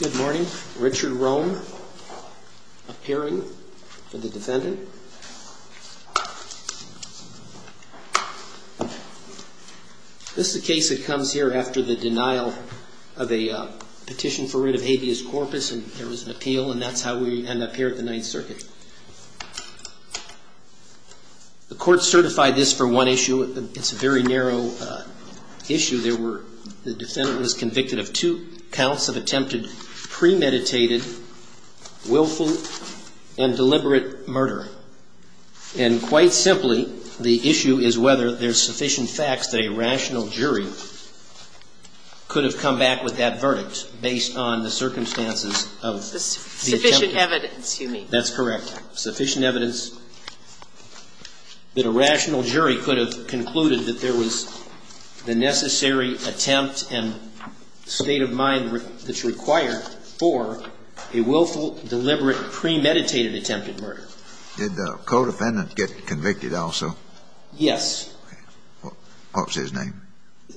Good morning. Richard Rohn, appearing. This is a case that comes here after the denial of a petition for rid of habeas corpus and there was an appeal and that's how we end up here at the Ninth Circuit. The Court certified this for one issue. It's a very narrow issue. There were the defendant was convicted of two counts of attempted premeditated, willful and deliberate murder. And quite simply, the issue is whether there's sufficient facts that a rational jury could have come back with that verdict based on the circumstances of the attempt. That's correct. Sufficient evidence that a rational jury could have concluded that there was the necessary attempt and state of mind that's required for a willful, deliberate, premeditated attempted murder. Did the co-defendant get convicted also? Yes. What was his name?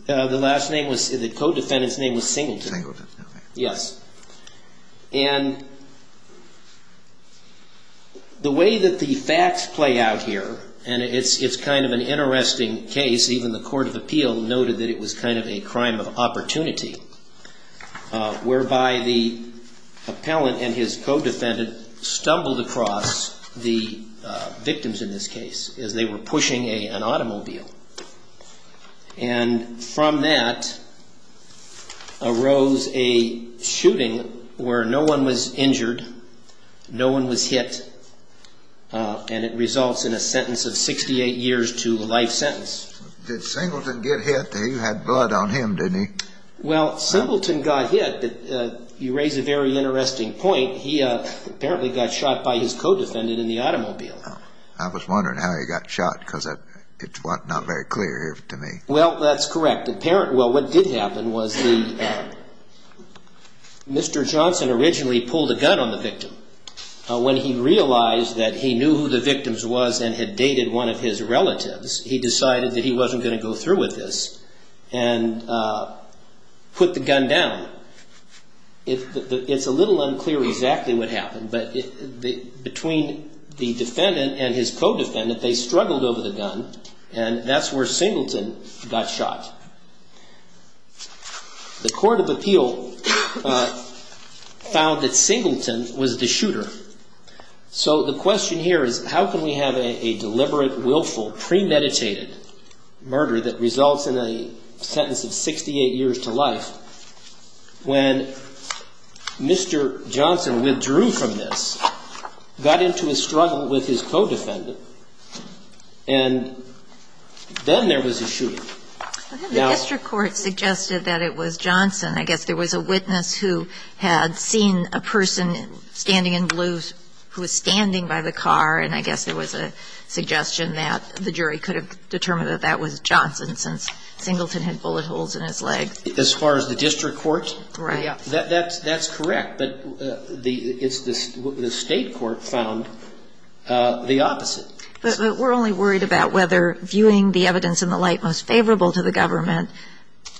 The last name was, the co-defendant's name was Singleton. Singleton. Yes. And the way that the facts play out here, and it's kind of an interesting case, even the Court of Appeal noted that it was kind of a crime of opportunity, whereby the appellant and his co-defendant stumbled across the victims in this case as they were pushing an automobile. And from that arose a shooting where no one was injured, no one was hit, and it results in a sentence of 68 years to life sentence. Did Singleton get hit? You had blood on him, didn't you? Well, Singleton got hit, but you raise a very interesting point. He apparently got shot by his co-defendant in the automobile. I was wondering how he got shot, because it's not very clear to me. Well, that's correct. Well, what did happen was Mr. Johnson originally pulled a gun on the victim. When he realized that he knew who the victims was and had dated one of his relatives, he decided that he wasn't going to go through with this and put the gun down. It's a little unclear exactly what happened, but between the defendant and his co-defendant, they struggled over the gun, and that's where Singleton got shot. The Court of Appeal found that Singleton was the shooter. So the question here is how can we have a deliberate, willful, premeditated murder that results in a sentence of 68 years to life when Mr. Johnson withdrew from this, got into a struggle with his co-defendant, and then there was a shooting? The district court suggested that it was Johnson. I guess there was a witness who had seen a person standing in blue who was standing by the car, and I guess there was a suggestion that the jury could have determined that that was Johnson since Singleton had bullet holes in his leg. As far as the district court? Right. That's correct, but the State court found the opposite. But we're only worried about whether viewing the evidence in the light most favorable to the government,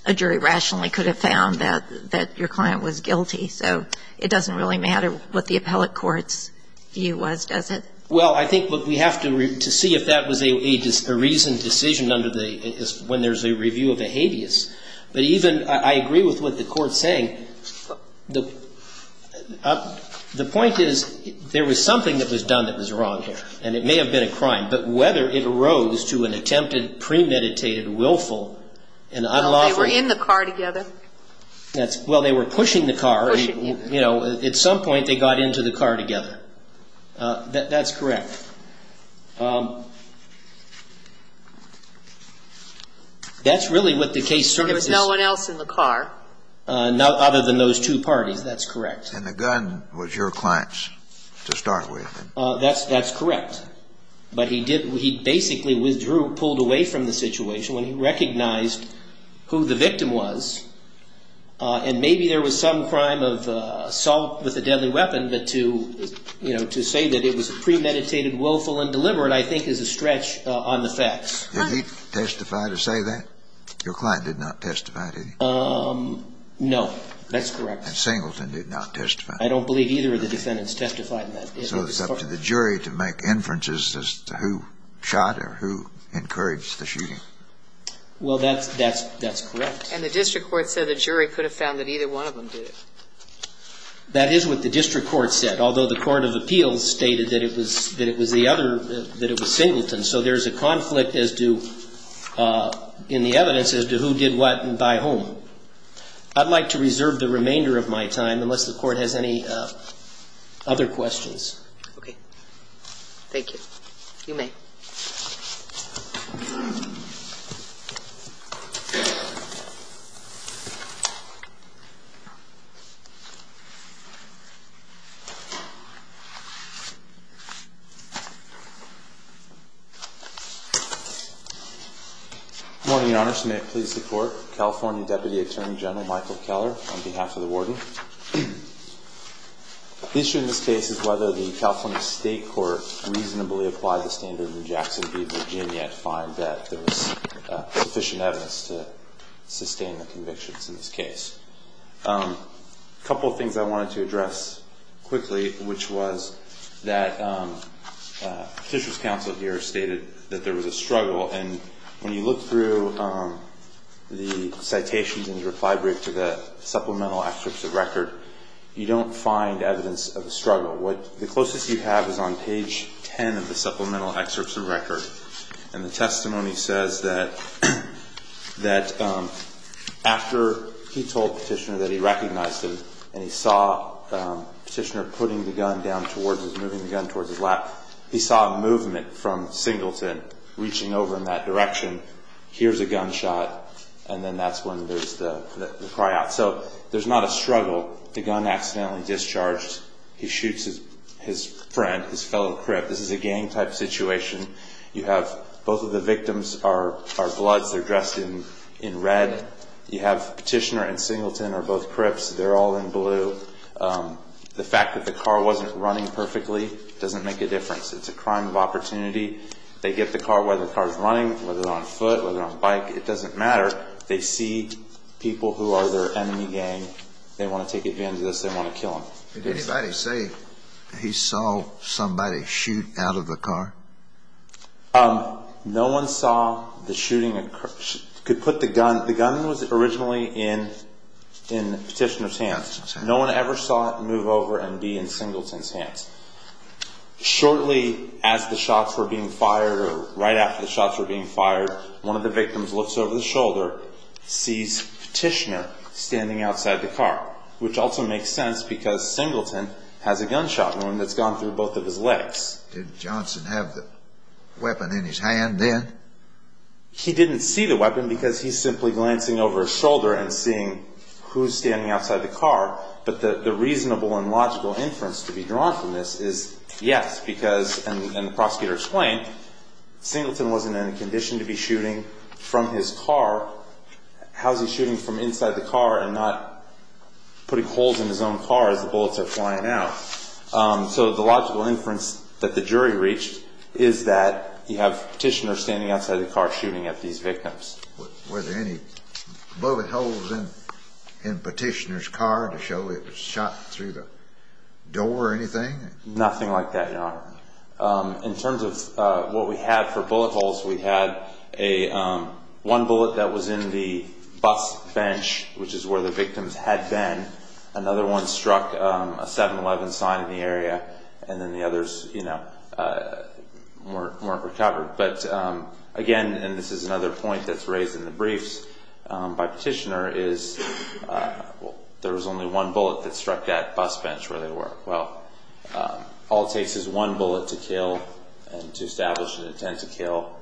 a jury rationally could have found that your client was guilty. So it doesn't really matter what the appellate court's view was, does it? Well, I think we have to see if that was a reasoned decision under the – when there's a review of a habeas. But even – I agree with what the court's saying. The point is there was something that was done that was wrong here, and it may have been a crime, but whether it arose to an attempted, premeditated, willful and unlawful – Well, they were in the car together. That's – well, they were pushing the car. Pushing, yeah. There was no one else in the car. Other than those two parties, that's correct. And the gun was your client's to start with. That's correct. But he did – he basically withdrew, pulled away from the situation when he recognized who the victim was. And maybe there was some crime of assault with a deadly weapon, but to – you know, to say that it was premeditated, willful and deliberate I think is a stretch on the facts. Did he testify to say that? Your client did not testify to that. No. That's correct. And Singleton did not testify. I don't believe either of the defendants testified in that case. So it's up to the jury to make inferences as to who shot or who encouraged the shooting. Well, that's – that's correct. And the district court said the jury could have found that either one of them did it. That is what the district court said, although the court of appeals stated that it was – that it was the other – that it was Singleton. So there's a conflict as to – in the evidence as to who did what and by whom. I'd like to reserve the remainder of my time unless the Court has any other questions. Okay. Thank you. You may. Good morning, Your Honor. May it please the Court. California Deputy Attorney General Michael Keller on behalf of the warden. The issue in this case is whether the California State Court reasonably applied the standard in Jackson v. Virginia to find that there was sufficient evidence to sustain the convictions in this case. A couple of things I wanted to address quickly, which was that Petitioner's counsel here stated that there was a struggle. And when you look through the citations in the reply brief to the supplemental excerpts of record, you don't find evidence of a struggle. What – the closest you have is on page 10 of the supplemental excerpts of record. And the testimony says that after he told Petitioner that he recognized him and he saw Petitioner putting the gun down towards his – moving the gun towards his lap, he saw movement from Singleton reaching over in that direction. Here's a gunshot. And then that's when there's the cry out. So there's not a struggle. The gun accidentally discharged. He shoots his friend, his fellow crip. This is a gang-type situation. You have both of the victims are bloods. They're dressed in red. You have Petitioner and Singleton are both crips. They're all in blue. The fact that the car wasn't running perfectly doesn't make a difference. It's a crime of opportunity. They get the car, whether the car's running, whether it's on foot, whether it's on a bike, it doesn't matter. They see people who are their enemy gang. They want to take advantage of this. They want to kill them. Did anybody say he saw somebody shoot out of the car? No one saw the shooting. Could put the gun – the gun was originally in Petitioner's hands. No one ever saw it move over and be in Singleton's hands. Shortly as the shots were being fired or right after the shots were being fired, one of the victims looks over the shoulder, sees Petitioner standing outside the car, which also makes sense because Singleton has a gunshot wound that's gone through both of his legs. Did Johnson have the weapon in his hand then? He didn't see the weapon because he's simply glancing over his shoulder and seeing who's standing outside the car. But the reasonable and logical inference to be drawn from this is yes, because – and the prosecutor explained – Singleton wasn't in a condition to be shooting from his car. How's he shooting from inside the car and not putting holes in his own car as the bullets are flying out? So the logical inference that the jury reached is that you have Petitioner standing outside the car shooting at these victims. Were there any bullet holes in Petitioner's car to show it was shot through the door or anything? Nothing like that, Your Honor. In terms of what we had for bullet holes, we had one bullet that was in the bus bench, which is where the victims had been. Another one struck a 7-11 sign in the area, and then the others weren't recovered. But again – and this is another point that's raised in the briefs by Petitioner – is there was only one bullet that struck that bus bench where they were. Well, all it takes is one bullet to kill and to establish an intent to kill.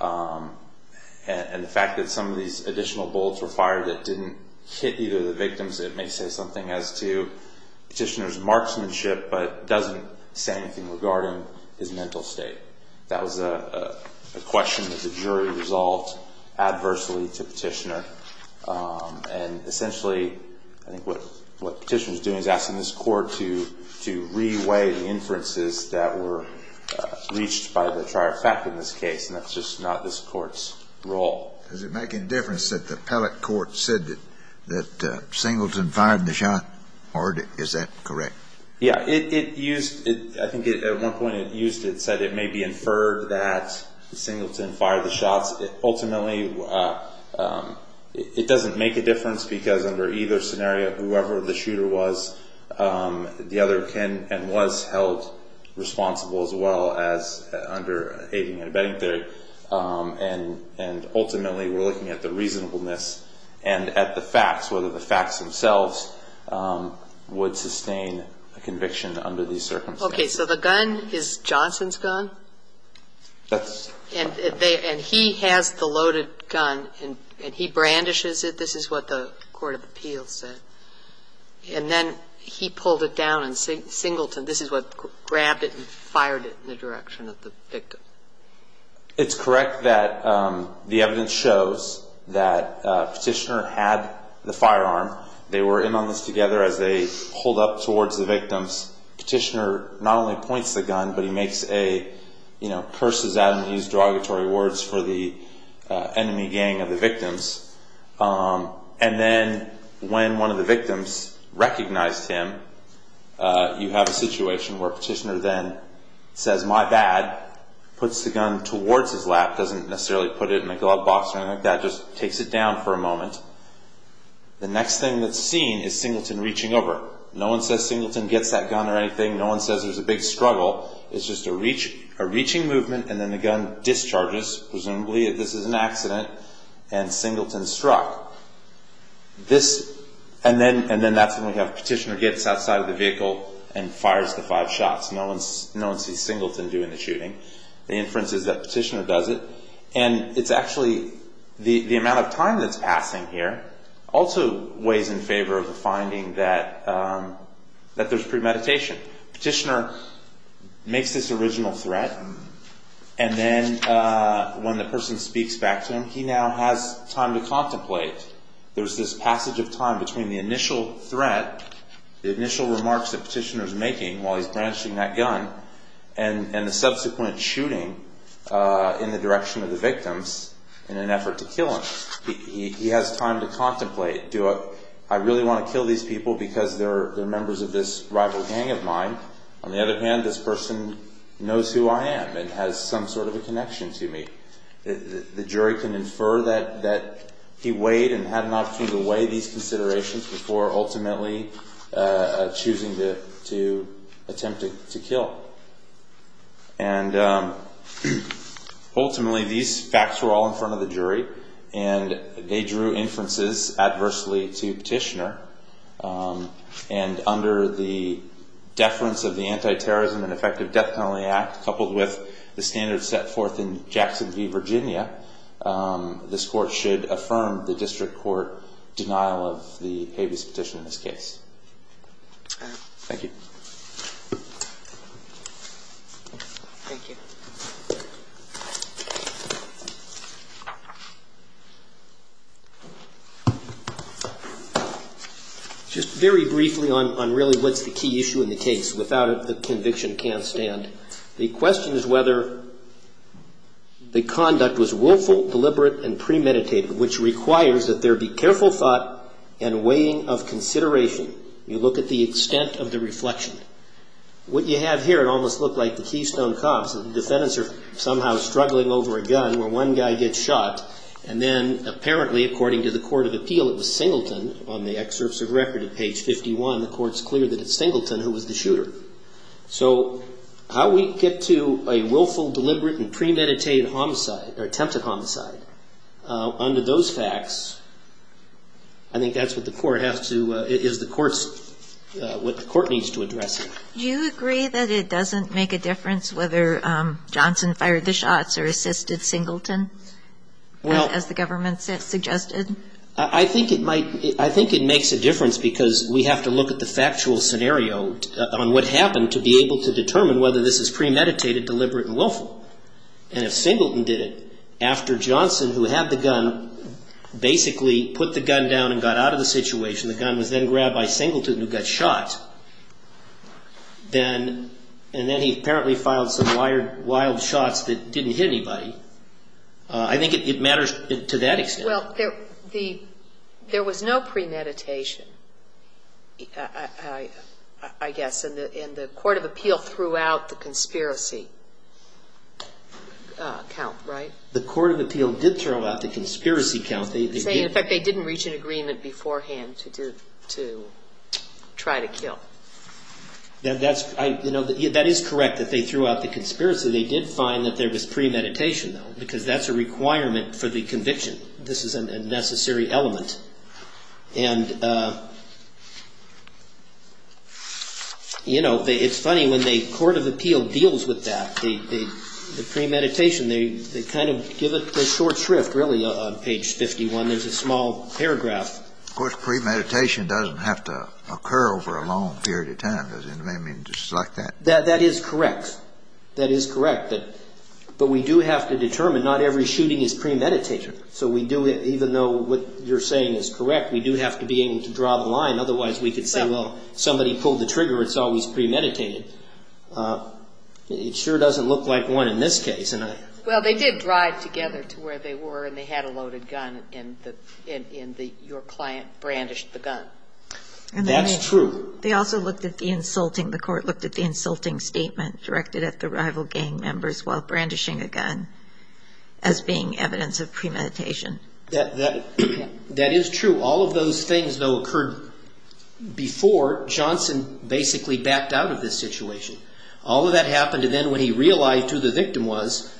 And the fact that some of these additional bullets were fired that didn't hit either of the victims, it may say something as to Petitioner's marksmanship but doesn't say anything regarding his mental state. That was a question that the jury resolved adversely to Petitioner. And essentially, I think what Petitioner was doing is asking this court to re-weigh the inferences that were reached by the trier of fact in this case, and that's just not this court's role. Does it make any difference that the appellate court said that Singleton fired the shot, or is that correct? Yeah, it used – I think at one point it said it may be inferred that Singleton fired the shots. Ultimately, it doesn't make a difference because under either scenario, whoever the shooter was, the other can and was held responsible as well as under aiding and abetting theory. And ultimately, we're looking at the reasonableness and at the facts, whether the facts themselves would sustain a conviction under these circumstances. Okay, so the gun is Johnson's gun? That's – And he has the loaded gun, and he brandishes it. This is what the court of appeals said. And then he pulled it down, and Singleton, this is what grabbed it and fired it in the direction of the victim. It's correct that the evidence shows that Petitioner had the firearm. They were in on this together as they pulled up towards the victims. Petitioner not only points the gun, but he makes a – you know, curses at him. He used derogatory words for the enemy gang of the victims. And then when one of the victims recognized him, you have a situation where Petitioner then says, my bad, puts the gun towards his lap, doesn't necessarily put it in a glove box or anything like that, just takes it down for a moment. The next thing that's seen is Singleton reaching over. No one says Singleton gets that gun or anything. No one says there's a big struggle. It's just a reaching movement, and then the gun discharges, presumably this is an accident, and Singleton's struck. This – and then that's when we have Petitioner gets outside of the vehicle and fires the five shots. No one sees Singleton doing the shooting. The inference is that Petitioner does it. And it's actually – the amount of time that's passing here also weighs in favor of the finding that there's premeditation. Petitioner makes this original threat, and then when the person speaks back to him, he now has time to contemplate. There's this passage of time between the initial threat, the initial remarks that Petitioner's making while he's branching that gun, and the subsequent shooting in the direction of the victims in an effort to kill him. He has time to contemplate. Do I really want to kill these people because they're members of this rival gang of mine? On the other hand, this person knows who I am and has some sort of a connection to me. The jury can infer that he weighed and had an opportunity to weigh these considerations before ultimately choosing to attempt to kill. And ultimately, these facts were all in front of the jury, and they drew inferences adversely to Petitioner. And under the deference of the Anti-Terrorism and Effective Death Penalty Act, coupled with the standards set forth in Jackson v. Virginia, this court should affirm the district court denial of the habeas petition in this case. Thank you. Thank you. Just very briefly on really what's the key issue in the case. Without it, the conviction can't stand. The question is whether the conduct was willful, deliberate, and premeditated, which requires that there be careful thought and weighing of consideration. You look at the extent of the reflection. What you have here, it almost looked like the Keystone Cops. The defendants are somehow struggling over a gun where one guy gets shot. And then apparently, according to the court of appeal, it was Singleton. On the excerpts of record at page 51, the court's clear that it's Singleton who was the shooter. So how we get to a willful, deliberate, and premeditated homicide, or attempted homicide, under those facts, I think that's what the court has to, is the court's, what the court needs to address. Do you agree that it doesn't make a difference whether Johnson fired the shots or assisted Singleton, as the government suggested? I think it might. I think it makes a difference because we have to look at the factual scenario on what happened to be able to determine whether this is premeditated, deliberate, and willful. And if Singleton did it, after Johnson, who had the gun, basically put the gun down and got out of the situation, the gun was then grabbed by Singleton, who got shot. And then he apparently filed some wild shots that didn't hit anybody. I think it matters to that extent. Well, there was no premeditation, I guess, and the court of appeal threw out the conspiracy count, right? The court of appeal did throw out the conspiracy count. In fact, they didn't reach an agreement beforehand to try to kill. That is correct, that they threw out the conspiracy. They did find that there was premeditation, though, because that's a requirement for the conviction. This is a necessary element. And it's funny, when the court of appeal deals with that, the premeditation, they kind of give it a short shrift, really, on page 51. There's a small paragraph. Of course, premeditation doesn't have to occur over a long period of time, does it? I mean, just like that. That is correct. That is correct. But we do have to determine not every shooting is premeditated. So we do, even though what you're saying is correct, we do have to be able to draw the line. Otherwise, we could say, well, somebody pulled the trigger, it's always premeditated. It sure doesn't look like one in this case. Well, they did drive together to where they were, and they had a loaded gun, and your client brandished the gun. That's true. They also looked at the insulting, the court looked at the insulting statement directed at the rival gang members while brandishing a gun as being evidence of premeditation. That is true. All of those things, though, occurred before Johnson basically backed out of this situation. All of that happened, and then when he realized who the victim was.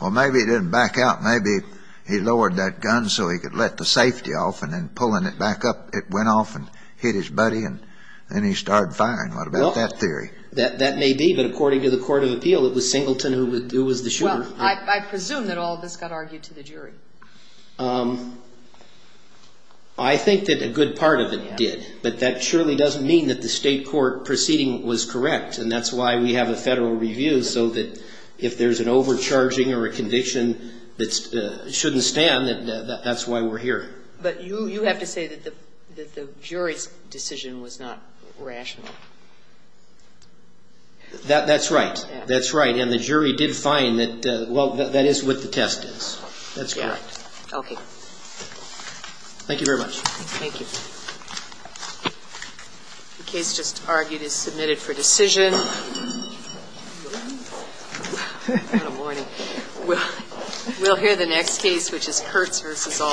Well, maybe he didn't back out. Maybe he lowered that gun so he could let the safety off, and then pulling it back up, it went off and hit his buddy, and then he started firing. What about that theory? That may be, but according to the court of appeal, it was Singleton who was the shooter. I presume that all of this got argued to the jury. I think that a good part of it did, but that surely doesn't mean that the state court proceeding was correct, and that's why we have a federal review so that if there's an overcharging or a conviction that shouldn't stand, that's why we're here. But you have to say that the jury's decision was not rational. That's right. And the jury did find that, well, that is what the test is. That's correct. Okay. Thank you very much. Thank you. The case just argued is submitted for decision. Good morning. We'll hear the next case, which is Kurtz v. Alston.